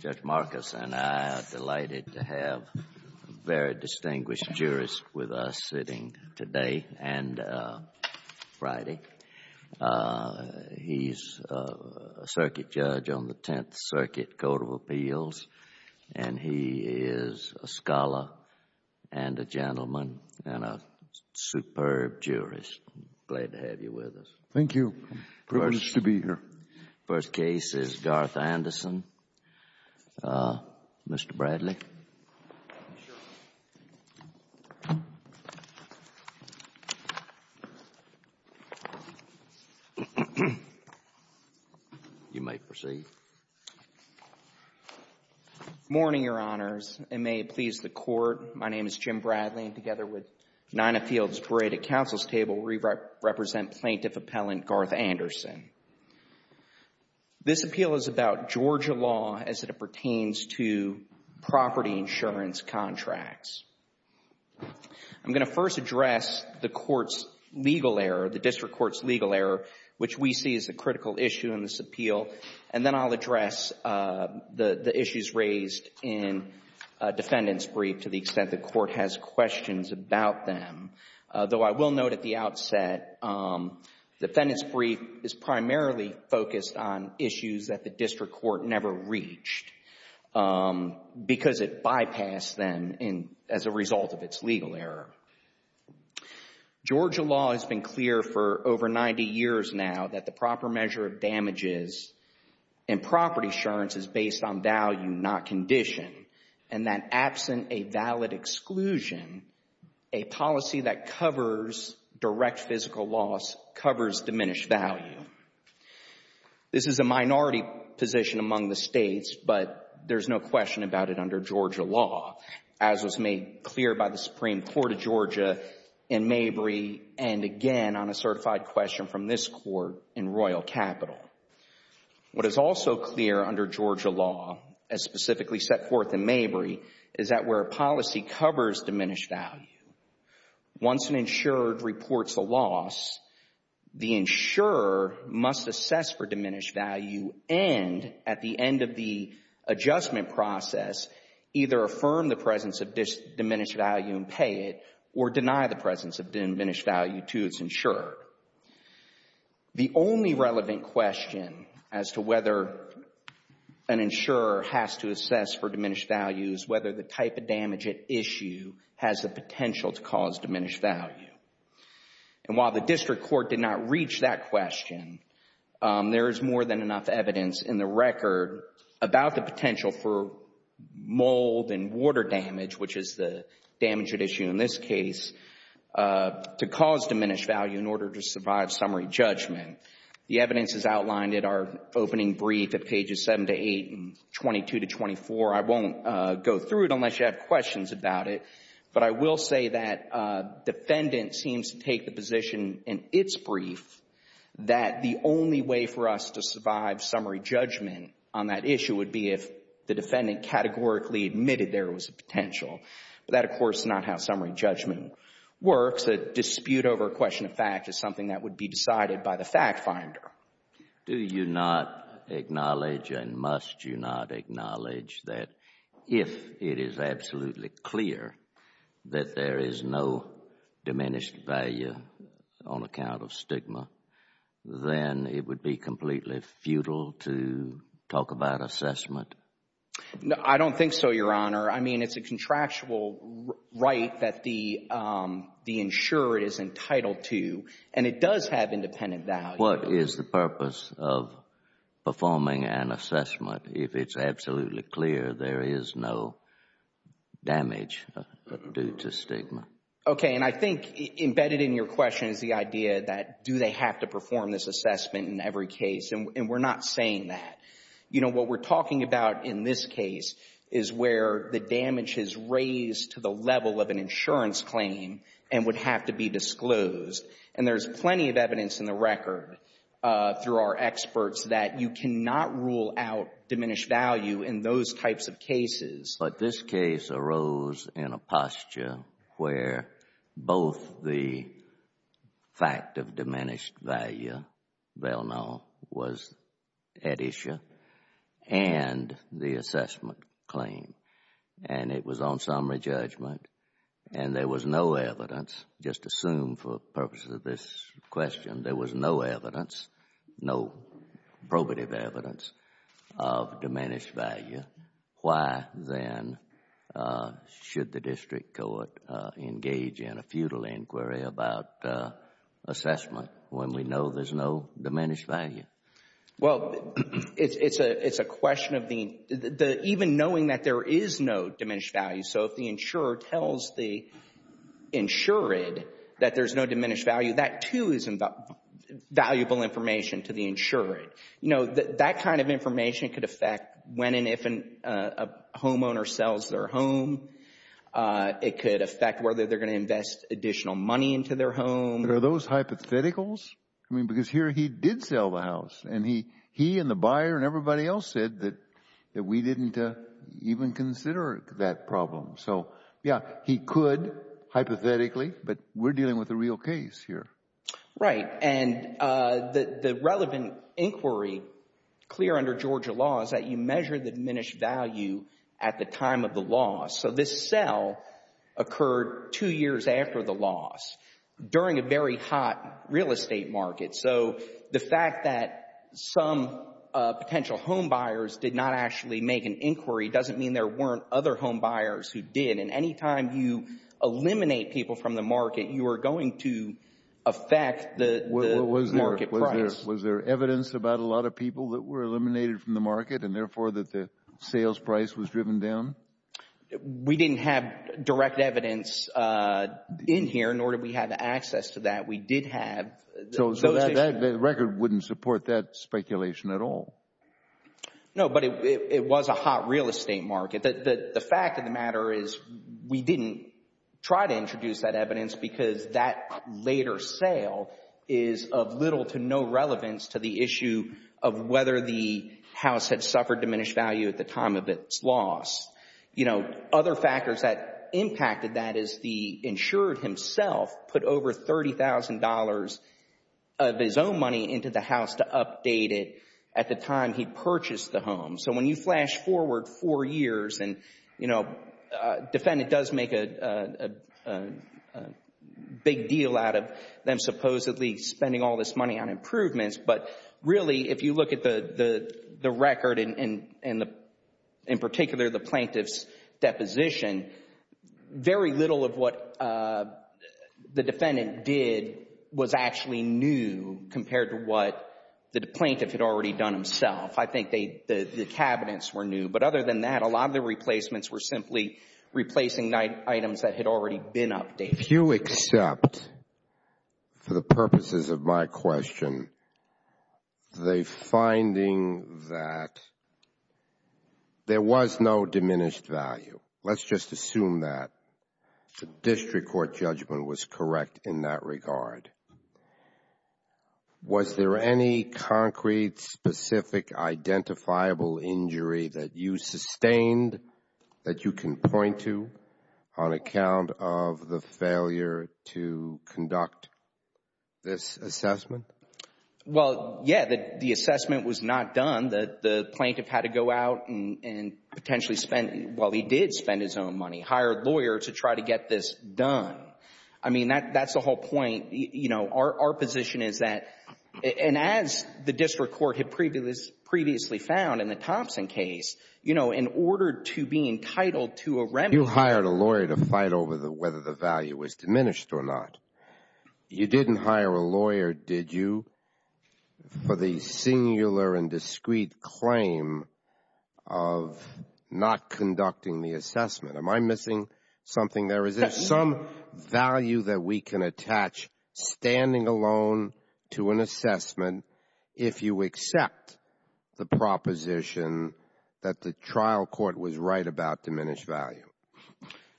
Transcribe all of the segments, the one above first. Judge Marcus and I are delighted to have a very distinguished jurist with us sitting today and Friday. He is a circuit judge on the Tenth Circuit Court of Appeals and he is a scholar and a gentleman and a superb jurist. Glad to have you with us. Thank you. Privilege to be here. The first case is Garth Anderson. Mr. Bradley. You may proceed. Morning, Your Honors. And may it please the Court, my name is Jim Bradley and together with Ninah Fields Parade at counsel's table, we represent Plaintiff Appellant Garth Anderson. This appeal is about Georgia law as it pertains to property insurance contracts. I'm going to first address the court's legal error, the district court's legal error, which we see as a critical issue in this appeal, and then I'll address the issues raised in defendant's brief to the extent the court has questions about them, though I will note at the outset defendant's brief is primarily focused on issues that the district court never reached because it bypassed them as a result of its legal error. Georgia law has been clear for over 90 years now that the proper measure of damages in absent a valid exclusion, a policy that covers direct physical loss covers diminished value. This is a minority position among the states, but there's no question about it under Georgia law as was made clear by the Supreme Court of Georgia in Mabry and again on a certified question from this court in Royal Capital. What is also clear under Georgia law as specifically set forth in Mabry is that where a policy covers diminished value, once an insured reports a loss, the insurer must assess for diminished value and at the end of the adjustment process either affirm the presence of this diminished value and pay it or deny the presence of diminished value to its insured. The only relevant question as to whether an insurer has to assess for diminished value is whether the type of damage at issue has the potential to cause diminished value. And while the district court did not reach that question, there is more than enough evidence in the record about the potential for mold and water damage, which is the damage at issue in this case, to cause diminished value in order to survive summary judgment. The evidence is outlined in our opening brief at pages 7 to 8 and 22 to 24. I won't go through it unless you have questions about it, but I will say that defendant seems to take the position in its brief that the only way for us to survive summary judgment on that issue would be if the defendant categorically admitted there was a potential. But that, of course, is not how summary judgment works. A dispute over a question of fact is something that would be decided by the fact finder. Do you not acknowledge and must you not acknowledge that if it is absolutely clear that there is no diminished value on account of stigma, then it would be completely futile to talk about assessment? I don't think so, Your Honor. I mean, it's a contractual right that the insurer is entitled to, and it does have independent value. What is the purpose of performing an assessment if it's absolutely clear there is no damage due to stigma? Okay, and I think embedded in your question is the idea that do they have to perform this assessment in every case, and we're not saying that. You know, what we're talking about in this case is where the damage is raised to the level of an insurance claim and would have to be disclosed. And there's plenty of evidence in the record through our experts that you cannot rule out But this case arose in a posture where both the fact of diminished value, Belknap, was at issue, and the assessment claim. And it was on summary judgment, and there was no evidence, just assume for purposes of this question, there was no evidence, no probative evidence of diminished value. Why then should the district court engage in a futile inquiry about assessment when we know there's no diminished value? Well, it's a question of even knowing that there is no diminished value. So if the insurer tells the insured that there's no diminished value, that too is valuable information to the insured. You know, that kind of information could affect when and if a homeowner sells their home. It could affect whether they're going to invest additional money into their home. Are those hypotheticals? I mean, because here he did sell the house and he and the buyer and everybody else said that we didn't even consider that problem. So, yeah, he could hypothetically, but we're dealing with a real case here. Right. And the relevant inquiry clear under Georgia law is that you measure the diminished value at the time of the loss. So this sell occurred two years after the loss, during a very hot real estate market. So the fact that some potential homebuyers did not actually make an inquiry doesn't mean there weren't other homebuyers who did. And any time you eliminate people from the market, you are going to affect the market price. Was there evidence about a lot of people that were eliminated from the market and therefore that the sales price was driven down? We didn't have direct evidence in here, nor did we have access to that. We did have... So the record wouldn't support that speculation at all? No, but it was a hot real estate market. The fact of the matter is we didn't try to introduce that evidence because that later sale is of little to no relevance to the issue of whether the house had suffered diminished value at the time of its loss. You know, other factors that impacted that is the insured himself put over $30,000 of his own money into the house to update it at the time he purchased the home. So when you flash forward four years and, you know, a defendant does make a big deal out of them supposedly spending all this money on improvements, but really if you look at the record and in particular the plaintiff's deposition, very little of what the defendant did was actually new compared to what the plaintiff had already done himself. I think the cabinets were new, but other than that, a lot of the replacements were simply replacing items that had already been updated. If you accept, for the purposes of my question, the finding that there was no diminished value, let's just assume that the district court judgment was correct in that regard, was there any concrete, specific, identifiable injury that you sustained that you can point to on account of the failure to conduct this assessment? Well, yeah, the assessment was not done. The plaintiff had to go out and potentially spend, well, he did spend his own money, hired lawyers to try to get this done. I mean, that's the whole point. Our position is that, and as the district court had previously found in the Thompson case, in order to be entitled to a remedy You hired a lawyer to fight over whether the value was diminished or not. You didn't hire a lawyer, did you, for the singular and discrete claim of not conducting the assessment? Am I missing something there? Is there some value that we can attach, standing alone, to an assessment if you accept the proposition that the trial court was right about diminished value?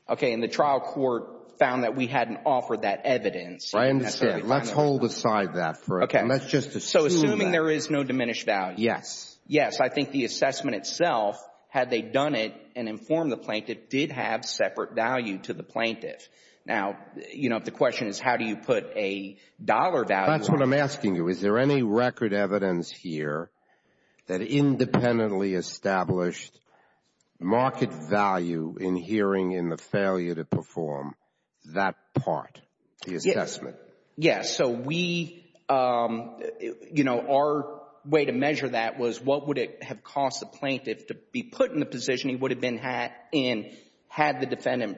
Okay, and the trial court found that we hadn't offered that evidence. I understand. Let's hold aside that for a moment. Okay. Let's just assume that. So assuming there is no diminished value. Yes. Yes. I think the assessment itself, had they done it and informed the plaintiff, did have separate value to the plaintiff. Now, you know, the question is, how do you put a dollar value on it? That's what I'm asking you. Is there any record evidence here that independently established market value in hearing in the failure to perform that part, the assessment? Yes. So we, you know, our way to measure that was what would it have cost the plaintiff to be put in the position he would have been in had the defendant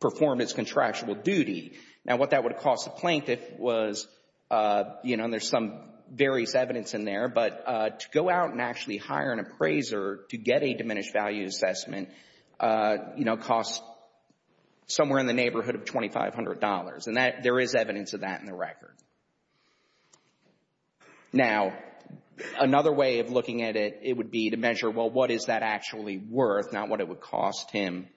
performed its contractual duty? Now, what that would have cost the plaintiff was, you know, and there's some various evidence in there, but to go out and actually hire an appraiser to get a diminished value assessment, you know, costs somewhere in the neighborhood of $2,500. And there is evidence of that in the record. Now, another way of looking at it, it would be to measure, well, what is that actually worth, not what it would cost him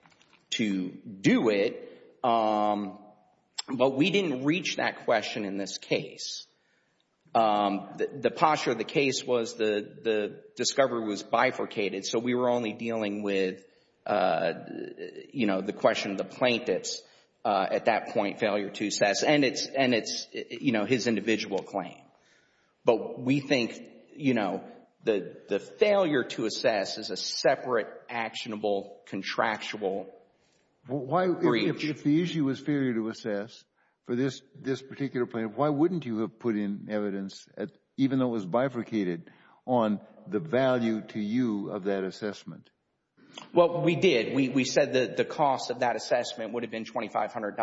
to do it. But we didn't reach that question in this case. The posture of the case was the discovery was bifurcated. So we were only dealing with, you know, the question of the plaintiff's at that point failure to assess, and it's, you know, his individual claim. But we think, you know, the failure to assess is a separate, actionable, contractual breach. If the issue was failure to assess for this particular plaintiff, why wouldn't you have put in evidence, even though it was bifurcated, on the value to you of that assessment? Well, we did. We said that the cost of that assessment would have been $2,500.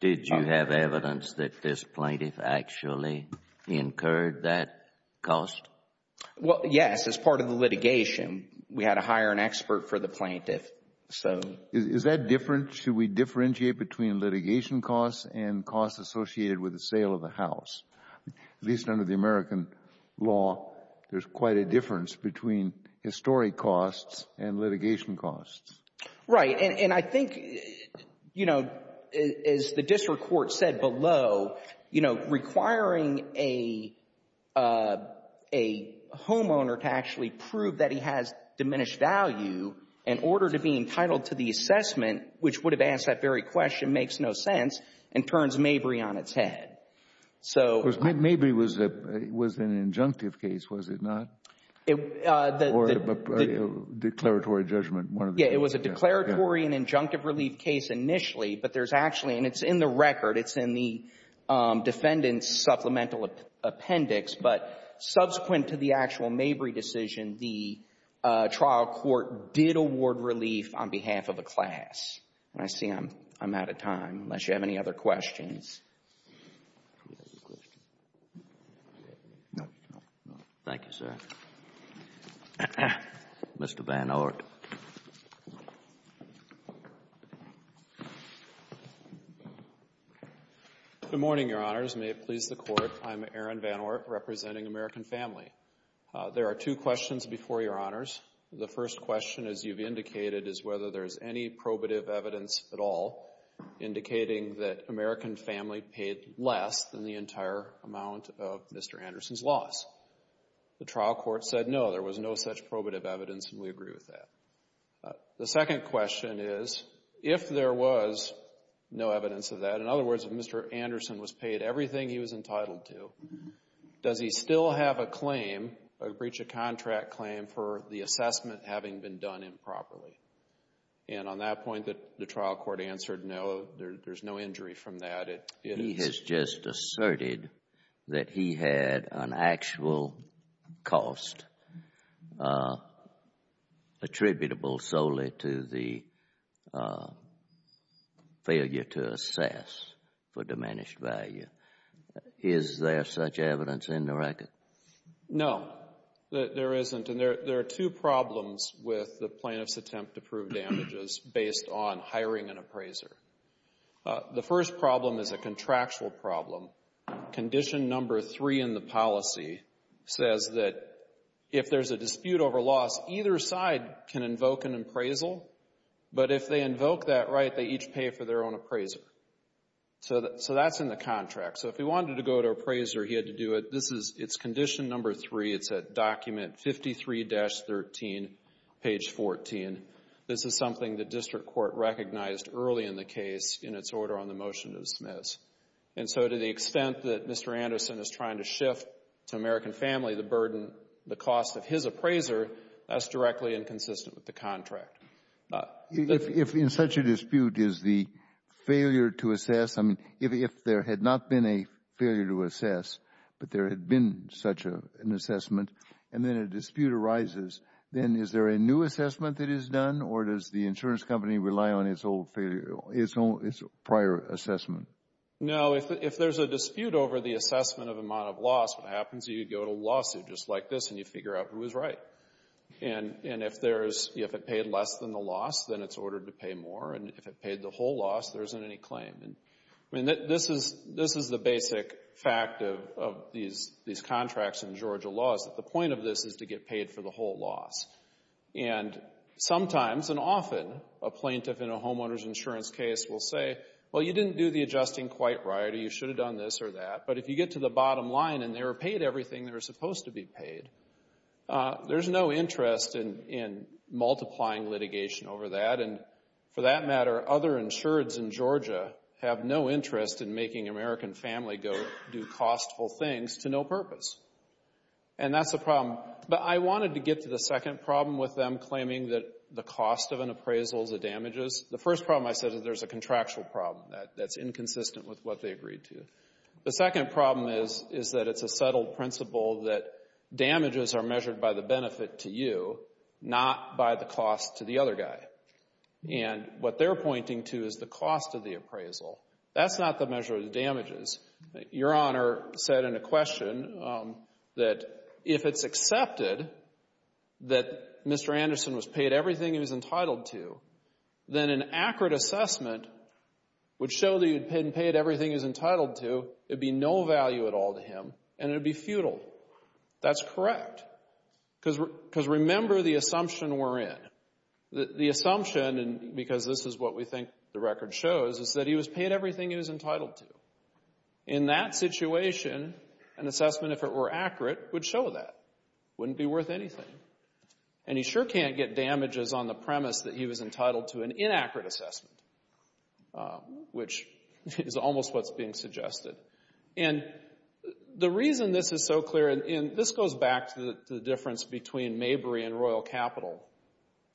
Did you have evidence that this plaintiff actually incurred that cost? Well, yes, as part of the litigation. We had to hire an expert for the plaintiff. So… Is that different? Should we differentiate between litigation costs and costs associated with the sale of the house? At least under the American law, there's quite a difference between historic costs and litigation costs. Right. And I think, you know, as the district court said below, you know, requiring a homeowner to actually prove that he has diminished value in order to be entitled to the assessment, which would have asked that very question, makes no sense, and turns Mabry on its head. So… Mabry was an injunctive case, was it not? Or a declaratory judgment, one of the… Yeah, it was a declaratory and injunctive relief case initially, but there's actually and it's in the record, it's in the defendant's supplemental appendix. But subsequent to the actual Mabry decision, the trial court did award relief on behalf of a class. And I see I'm out of time, unless you have any other questions. Do we have a question? No. Thank you, sir. Mr. Van Ort. Good morning, Your Honors. May it please the Court. I'm Aaron Van Ort, representing American Family. There are two questions before Your Honors. The first question, as you've indicated, is whether there's any probative evidence at all indicating that American Family paid less than the entire amount of Mr. Anderson's loss. The trial court said no, there was no such probative evidence, and we agree with that. The second question is, if there was no evidence of that, in other words, if Mr. Anderson was paid everything he was entitled to, does he still have a claim, a breach of contract claim, for the assessment having been done improperly? And on that point, the trial court answered no, there's no injury from that. He has just asserted that he had an actual cost attributable solely to the failure to assess for diminished value. Is there such evidence in the record? No, there isn't. There are two problems with the plaintiff's attempt to prove damages based on hiring an appraiser. The first problem is a contractual problem. Condition number three in the policy says that if there's a dispute over loss, either side can invoke an appraisal, but if they invoke that right, they each pay for their own appraiser. So that's in the contract. So if he wanted to go to appraiser, he had to do it. It's condition number three. It's at document 53-13, page 14. This is something the district court recognized early in the case in its order on the motion to dismiss. And so to the extent that Mr. Anderson is trying to shift to American Family the burden, the cost of his appraiser, that's directly inconsistent with the contract. If in such a dispute is the failure to assess, I mean, if there had not been a failure to assessment, and then a dispute arises, then is there a new assessment that is done, or does the insurance company rely on its prior assessment? No, if there's a dispute over the assessment of amount of loss, what happens is you go to a lawsuit just like this, and you figure out who is right. And if it paid less than the loss, then it's ordered to pay more, and if it paid the whole loss, there isn't any claim. I mean, this is the basic fact of these contracts in Georgia laws, that the point of this is to get paid for the whole loss. And sometimes and often a plaintiff in a homeowner's insurance case will say, well, you didn't do the adjusting quite right, or you should have done this or that, but if you get to the bottom line and they were paid everything they were supposed to be paid, there's no interest in multiplying litigation over that. And for that matter, other insureds in Georgia have no interest in making American family go do costful things to no purpose. And that's the problem. But I wanted to get to the second problem with them claiming that the cost of an appraisal is the damages. The first problem I said is there's a contractual problem that's inconsistent with what they agreed to. The second problem is that it's a settled principle that damages are measured by the And what they're pointing to is the cost of the appraisal. That's not the measure of the damages. Your Honor said in a question that if it's accepted that Mr. Anderson was paid everything he was entitled to, then an accurate assessment would show that he had been paid everything he was entitled to, it would be no value at all to him, and it would be futile. That's correct. Because remember the assumption we're in. The assumption, and because this is what we think the record shows, is that he was paid everything he was entitled to. In that situation, an assessment, if it were accurate, would show that. It wouldn't be worth anything. And he sure can't get damages on the premise that he was entitled to an inaccurate assessment, which is almost what's being suggested. And the reason this is so clear, and this goes back to the difference between Mabry and Royal Capital.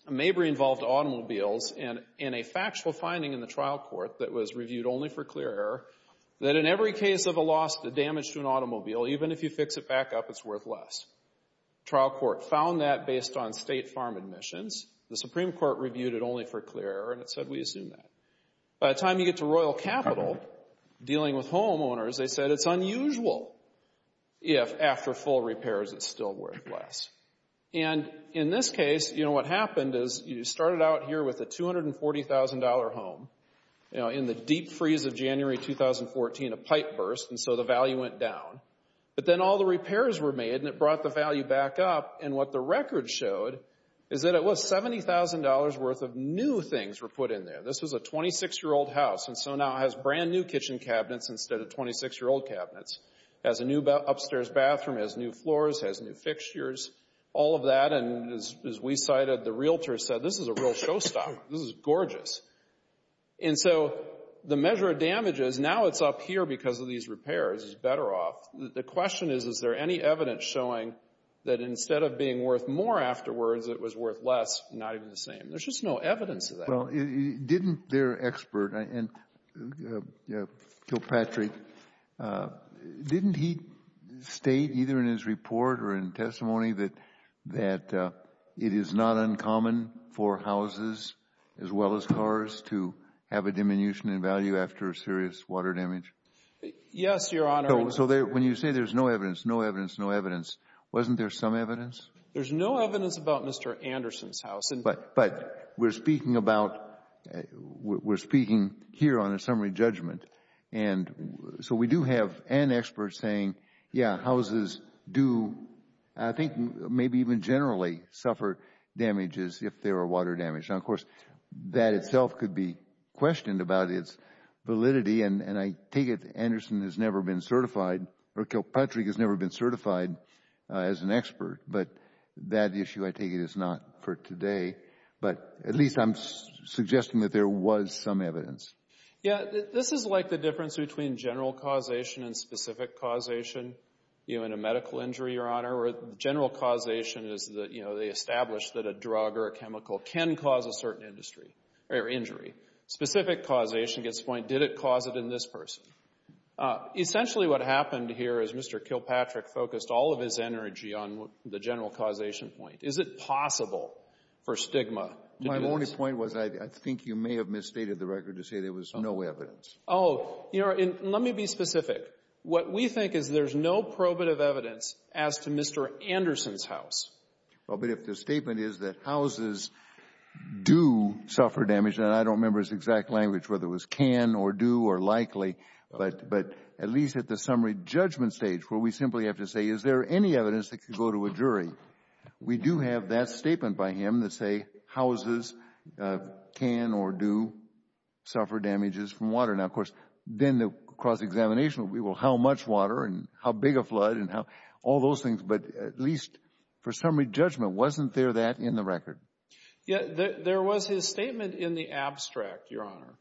Mabry involved automobiles, and a factual finding in the trial court that was reviewed only for clear error, that in every case of a loss to damage to an automobile, even if you fix it back up, it's worth less. The trial court found that based on state farm admissions. The Supreme Court reviewed it only for clear error, and it said we assume that. By the time you get to Royal Capital, dealing with homeowners, they said it's unusual if after full repairs it's still worth less. And in this case, what happened is you started out here with a $240,000 home. In the deep freeze of January 2014, a pipe burst, and so the value went down. But then all the repairs were made, and it brought the value back up, and what the record showed is that it was $70,000 worth of new things were put in there. This was a 26-year-old house, and so now it has brand new kitchen cabinets instead of All of that, and as we cited, the realtor said, this is a real show stop, this is gorgeous. And so the measure of damage is now it's up here because of these repairs, it's better off. The question is, is there any evidence showing that instead of being worth more afterwards, it was worth less, not even the same? There's just no evidence of that. Well, didn't their expert, Kilpatrick, didn't he state either in his report or in testimony that it is not uncommon for houses, as well as cars, to have a diminution in value after a serious water damage? Yes, Your Honor. So when you say there's no evidence, no evidence, no evidence, wasn't there some evidence? There's no evidence about Mr. Anderson's house. But we're speaking about, we're speaking here on a summary judgment, and so we do have an expert saying, yeah, houses do, I think maybe even generally, suffer damages if there are water damage. Now, of course, that itself could be questioned about its validity, and I take it that Anderson has never been certified, or Kilpatrick has never been certified as an expert. But that issue, I take it, is not for today. But at least I'm suggesting that there was some evidence. Yeah, this is like the difference between general causation and specific causation. You know, in a medical injury, Your Honor, where general causation is that, you know, they establish that a drug or a chemical can cause a certain industry, or injury. Specific causation gets the point, did it cause it in this person? Essentially, what happened here is Mr. Kilpatrick focused all of his energy on the general causation point. Is it possible for stigma to do this? The only point was I think you may have misstated the record to say there was no evidence. Oh, Your Honor, let me be specific. What we think is there's no probative evidence as to Mr. Anderson's house. Well, but if the statement is that houses do suffer damage, and I don't remember his exact language, whether it was can or do or likely, but at least at the summary judgment stage where we simply have to say, is there any evidence that could go to a jury? We do have that statement by him that say houses can or do suffer damages from water. Now, of course, then the cross-examination will be, well, how much water and how big a flood and all those things. But at least for summary judgment, wasn't there that in the record? There was his statement in the abstract, Your Honor.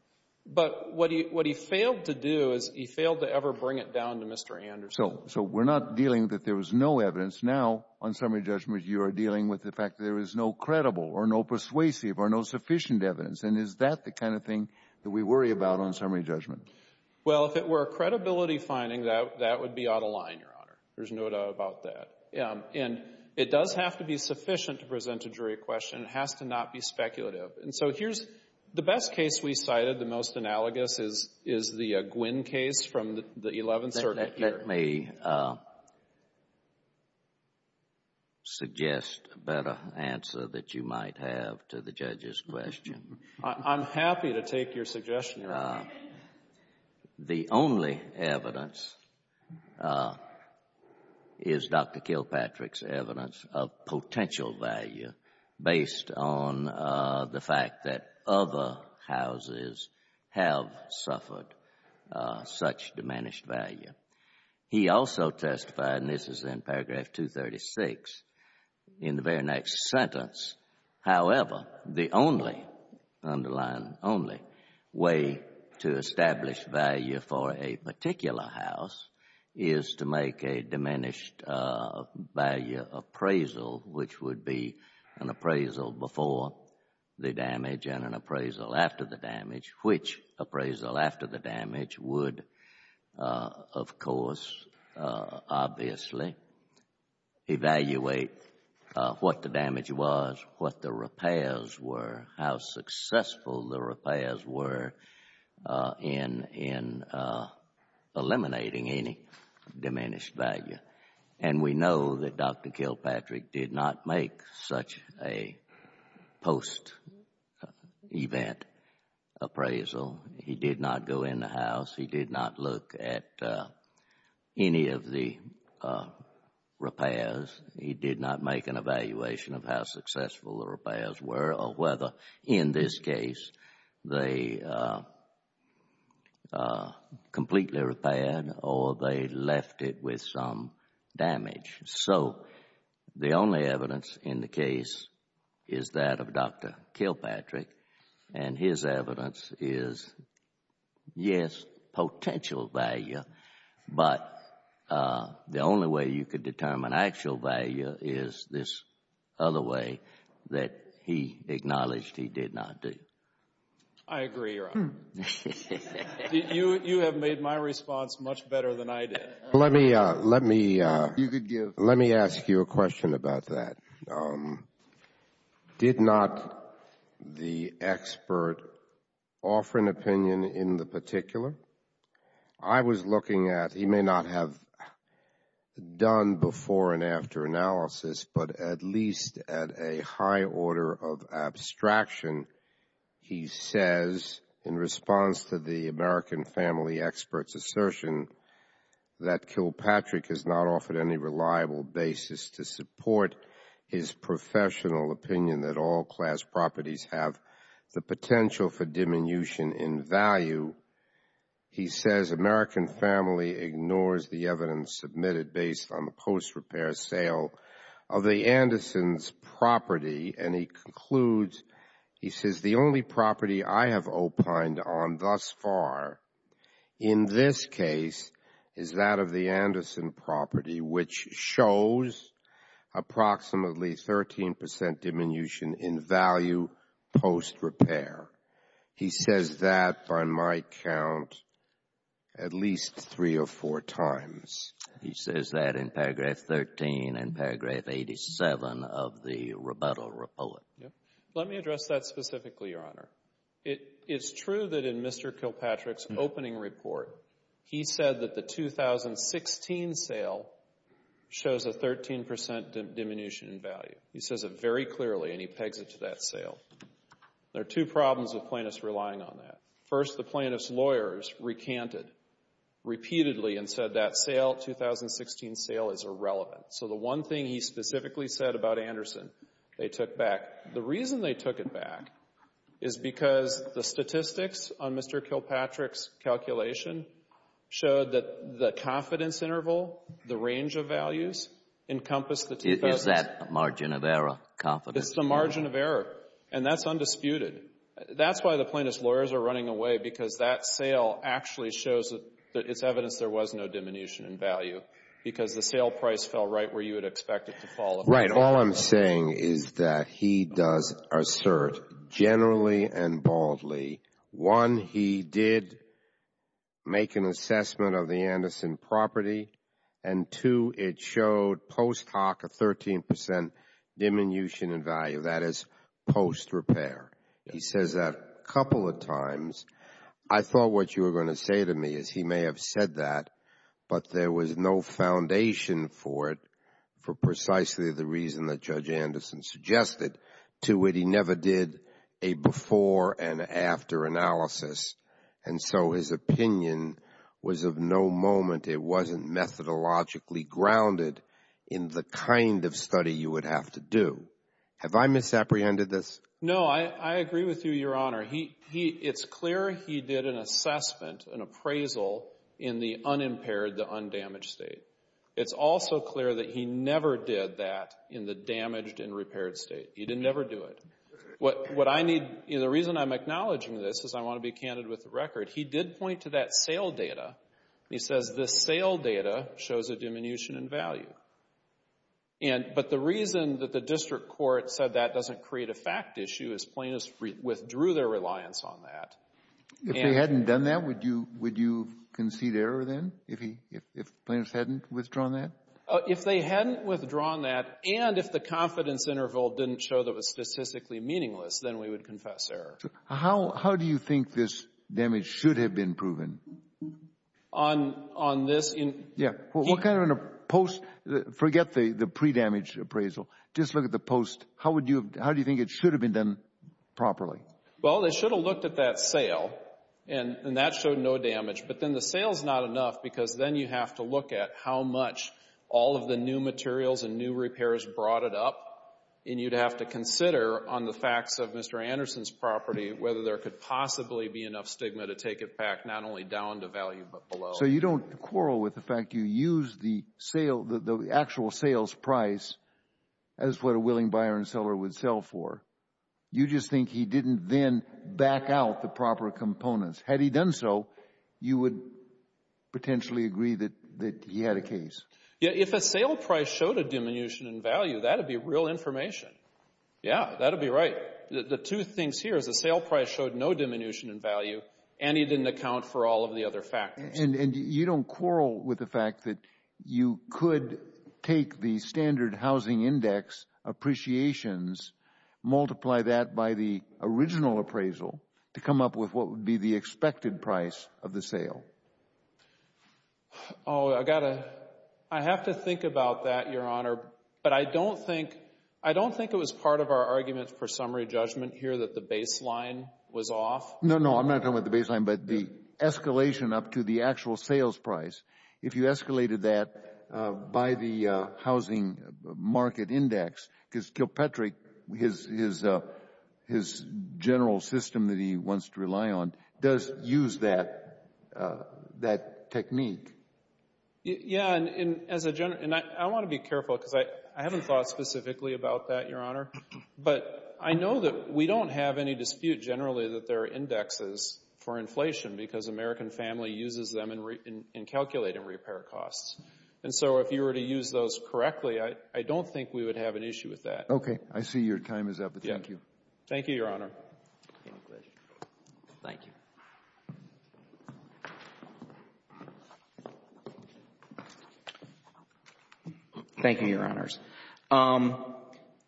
But what he failed to do is he failed to ever bring it down to Mr. Anderson. So we're not dealing that there was no evidence. Now on summary judgment, you are dealing with the fact that there is no credible or no persuasive or no sufficient evidence. And is that the kind of thing that we worry about on summary judgment? Well, if it were a credibility finding, that would be out of line, Your Honor. There's no doubt about that. And it does have to be sufficient to present a jury question. It has to not be speculative. And so here's the best case we cited, the most analogous is the Gwynn case from the 11th Circuit. Let me suggest a better answer that you might have to the judge's question. I'm happy to take your suggestion, Your Honor. The only evidence is Dr. Kilpatrick's evidence of potential value based on the fact that other houses have suffered such diminished value. He also testified, and this is in paragraph 236, in the very next sentence, however, the only, underline only, way to establish value for a particular house is to make a an appraisal before the damage and an appraisal after the damage, which appraisal after the damage would, of course, obviously, evaluate what the damage was, what the repairs were, how successful the repairs were in eliminating any diminished value. And we know that Dr. Kilpatrick did not make such a post-event appraisal. He did not go in the house, he did not look at any of the repairs, he did not make an evaluation of how successful the repairs were or whether, in this case, they completely repaired or they left it with some damage. So the only evidence in the case is that of Dr. Kilpatrick. And his evidence is, yes, potential value, but the only way you could determine actual value is this other way that he acknowledged he did not do. I agree, Your Honor. You have made my response much better than I did. Let me ask you a question about that. Did not the expert offer an opinion in the particular? I was looking at, he may not have done before and after analysis, but at least at a high order of abstraction, he says in response to the American family expert's assertion that Kilpatrick has not offered any reliable basis to support his professional opinion that all class properties have the potential for diminution in value. He says American family ignores the evidence submitted based on the post-repair sale of the Anderson's property, and he concludes, he says the only property I have opined on thus far in this case is that of the Anderson property, which shows approximately 13 percent diminution in value post-repair. He says that, by my count, at least three or four times. He says that in paragraph 13 and paragraph 87 of the rebuttal report. Let me address that specifically, Your Honor. It's true that in Mr. Kilpatrick's opening report, he said that the 2016 sale shows a 13 percent diminution in value. He says it very clearly, and he pegs it to that sale. There are two problems with plaintiffs relying on that. First, the plaintiff's lawyers recanted repeatedly and said that sale, 2016 sale, is irrelevant. So the one thing he specifically said about Anderson, they took back. The reason they took it back is because the statistics on Mr. Kilpatrick's calculation showed that the confidence interval, the range of values, encompassed the 2000s. Is that margin of error, confidence interval? It's the margin of error, and that's undisputed. That's why the plaintiff's lawyers are running away, because that sale actually shows that it's evidence there was no diminution in value, because the sale price fell right where you would expect it to fall. Right. All I'm saying is that he does assert, generally and baldly, one, he did make an assessment of the Anderson property, and two, it showed post hoc a 13 percent diminution in value. That is post repair. He says that a couple of times. I thought what you were going to say to me is he may have said that, but there was no foundation for it for precisely the reason that Judge Anderson suggested. To it, he never did a before and after analysis, and so his opinion was of no moment. It wasn't methodologically grounded in the kind of study you would have to do. Have I misapprehended this? No, I agree with you, Your Honor. It's clear he did an assessment, an appraisal, in the unimpaired, the undamaged state. It's also clear that he never did that in the damaged and repaired state. He didn't ever do it. What I need, the reason I'm acknowledging this is I want to be candid with the record. He did point to that sale data. He says the sale data shows a diminution in value. But the reason that the district court said that doesn't create a fact issue is plaintiffs withdrew their reliance on that. If they hadn't done that, would you concede error then, if plaintiffs hadn't withdrawn that? If they hadn't withdrawn that and if the confidence interval didn't show that it was statistically meaningless, then we would confess error. How do you think this damage should have been proven? On this? Yeah. What kind of post, forget the pre-damage appraisal, just look at the post. How would you, how do you think it should have been done properly? Well, they should have looked at that sale, and that showed no damage, but then the sale's not enough because then you have to look at how much all of the new materials and new repairs brought it up, and you'd have to consider on the facts of Mr. Anderson's property whether there could possibly be enough stigma to take it back, not only down to value but below. So you don't quarrel with the fact you used the sale, the actual sales price as what a willing buyer and seller would sell for. You just think he didn't then back out the proper components. Had he done so, you would potentially agree that he had a case. Yeah, if a sale price showed a diminution in value, that'd be real information. Yeah, that'd be right. The two things here is the sale price showed no diminution in value, and he didn't account for all of the other factors. And you don't quarrel with the fact that you could take the standard housing index appreciations, multiply that by the original appraisal to come up with what would be the expected price of the sale. Oh, I got to, I have to think about that, Your Honor, but I don't think, I don't think it was part of our argument for summary judgment here that the baseline was off. No, no, I'm not talking about the baseline, but the escalation up to the actual sales price. If you escalated that by the housing market index, because Kilpatrick, his general system that he wants to rely on, does use that technique. Yeah, and I want to be careful, because I haven't thought specifically about that, Your Honor.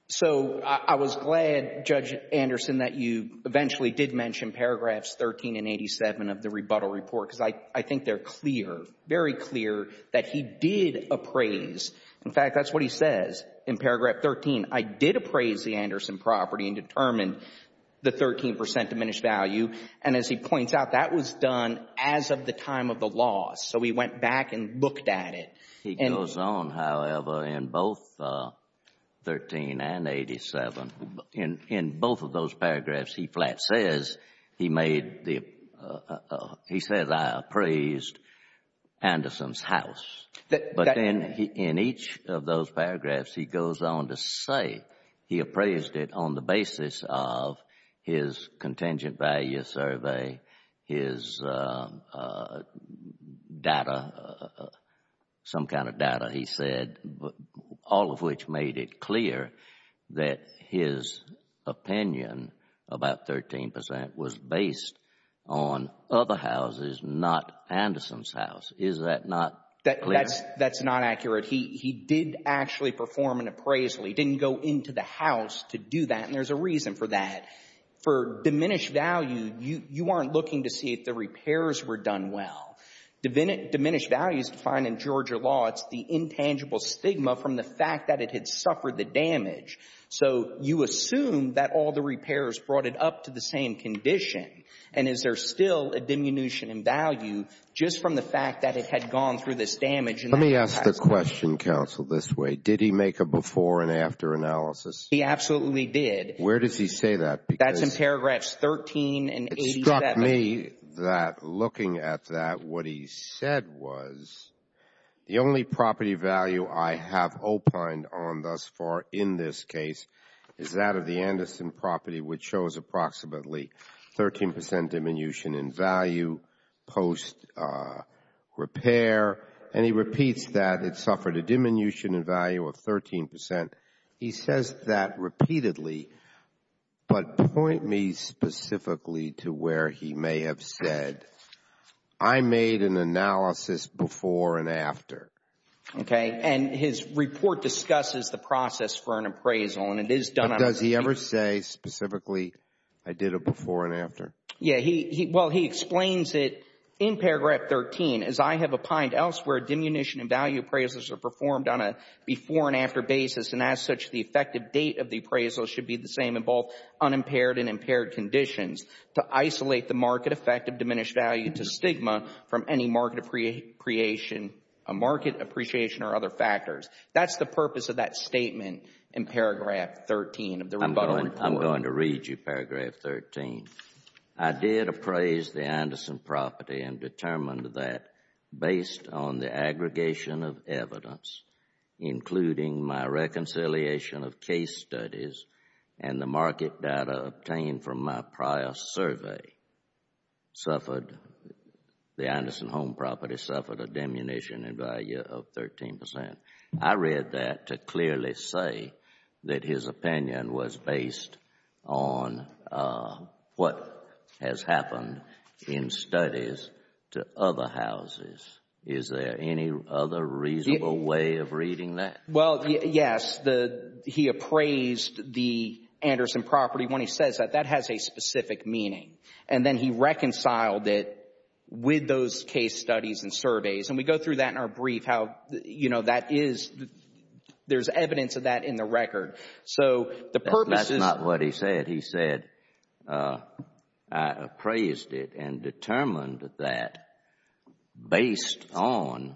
So, I was glad, Judge Anderson, that you eventually did mention paragraphs 13 and 87 of the rebuttal report, because I think they're clear, very clear, that he did appraise, in fact, that's what he says in paragraph 13, I did appraise the Anderson property and determined the 13 percent diminished value. And as he points out, that was done as of the time of the loss. So he went back and looked at it. He goes on, however, in both 13 and 87, in both of those paragraphs, he flat says he made the, he says I appraised Anderson's house. But then, in each of those paragraphs, he goes on to say he appraised it on the basis of his contingent value survey, his data, some kind of data, he said, all of which made it clear that his opinion about 13 percent was based on other houses, not Anderson's house. Is that not clear? That's not accurate. He did actually perform an appraisal. He didn't go into the house to do that. And there's a reason for that. For diminished value, you aren't looking to see if the repairs were done well. Diminished value is defined in Georgia law. It's the intangible stigma from the fact that it had suffered the damage. So you assume that all the repairs brought it up to the same condition. And is there still a diminution in value just from the fact that it had gone through this damage in that house? Let me ask the question, counsel, this way. Did he make a before and after analysis? He absolutely did. Where does he say that? That's in paragraphs 13 and 87. It struck me that looking at that, what he said was, the only property value I have opined on thus far in this case is that of the Anderson property, which shows approximately 13 percent diminution in value post repair. And he repeats that it suffered a diminution in value of 13 percent. He says that repeatedly. But point me specifically to where he may have said, I made an analysis before and after. Okay. And his report discusses the process for an appraisal. And it is done on a repeat. But does he ever say specifically, I did a before and after? Yeah. Well, he explains it in paragraph 13. As I have opined elsewhere, diminution in value appraisals are performed on a before and after basis. And as such, the effective date of the appraisal should be the same in both unimpaired and impaired conditions to isolate the market effect of diminished value to stigma from any market appreciation or other factors. That's the purpose of that statement in paragraph 13 of the rebuttal. I'm going to read you paragraph 13. I did appraise the Anderson property and determined that, based on the aggregation of evidence, including my reconciliation of case studies and the market data obtained from my prior survey, suffered, the Anderson home property suffered a diminution in value of 13 percent. I read that to clearly say that his opinion was based on what has happened in studies to other houses. Is there any other reasonable way of reading that? Well, yes. He appraised the Anderson property when he says that. That has a specific meaning. And then he reconciled it with those case studies and surveys. And we go through that in our brief, how, you know, that is, there's evidence of that in the record. So the purpose is— That's not what he said. He said, I appraised it and determined that based on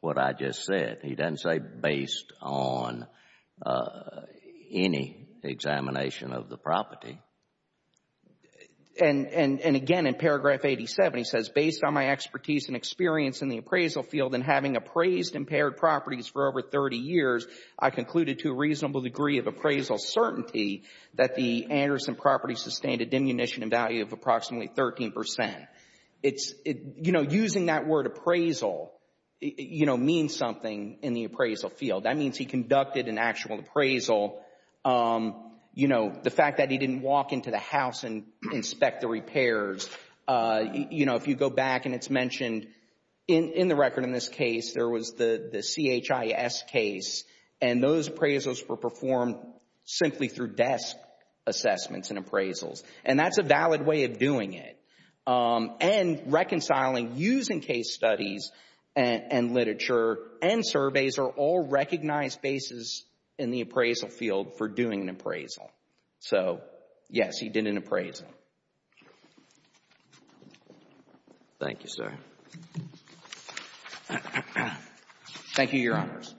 what I just said. He doesn't say based on any examination of the property. And, again, in paragraph 87, he says, based on my expertise and experience in the appraisal field and having appraised impaired properties for over 30 years, I concluded to a reasonable degree of appraisal certainty that the Anderson property sustained a diminution in value of approximately 13 percent. It's, you know, using that word appraisal, you know, means something in the appraisal field. That means he conducted an actual appraisal. You know, the fact that he didn't walk into the house and inspect the repairs, you know, if you go back and it's mentioned in the record in this case, there was the CHIS case, and those appraisals were performed simply through desk assessments and appraisals. And that's a valid way of doing it. And reconciling using case studies and literature and surveys are all recognized bases in the appraisal field for doing an appraisal. So, yes, he did an appraisal. Thank you, sir. Thank you, Your Honors.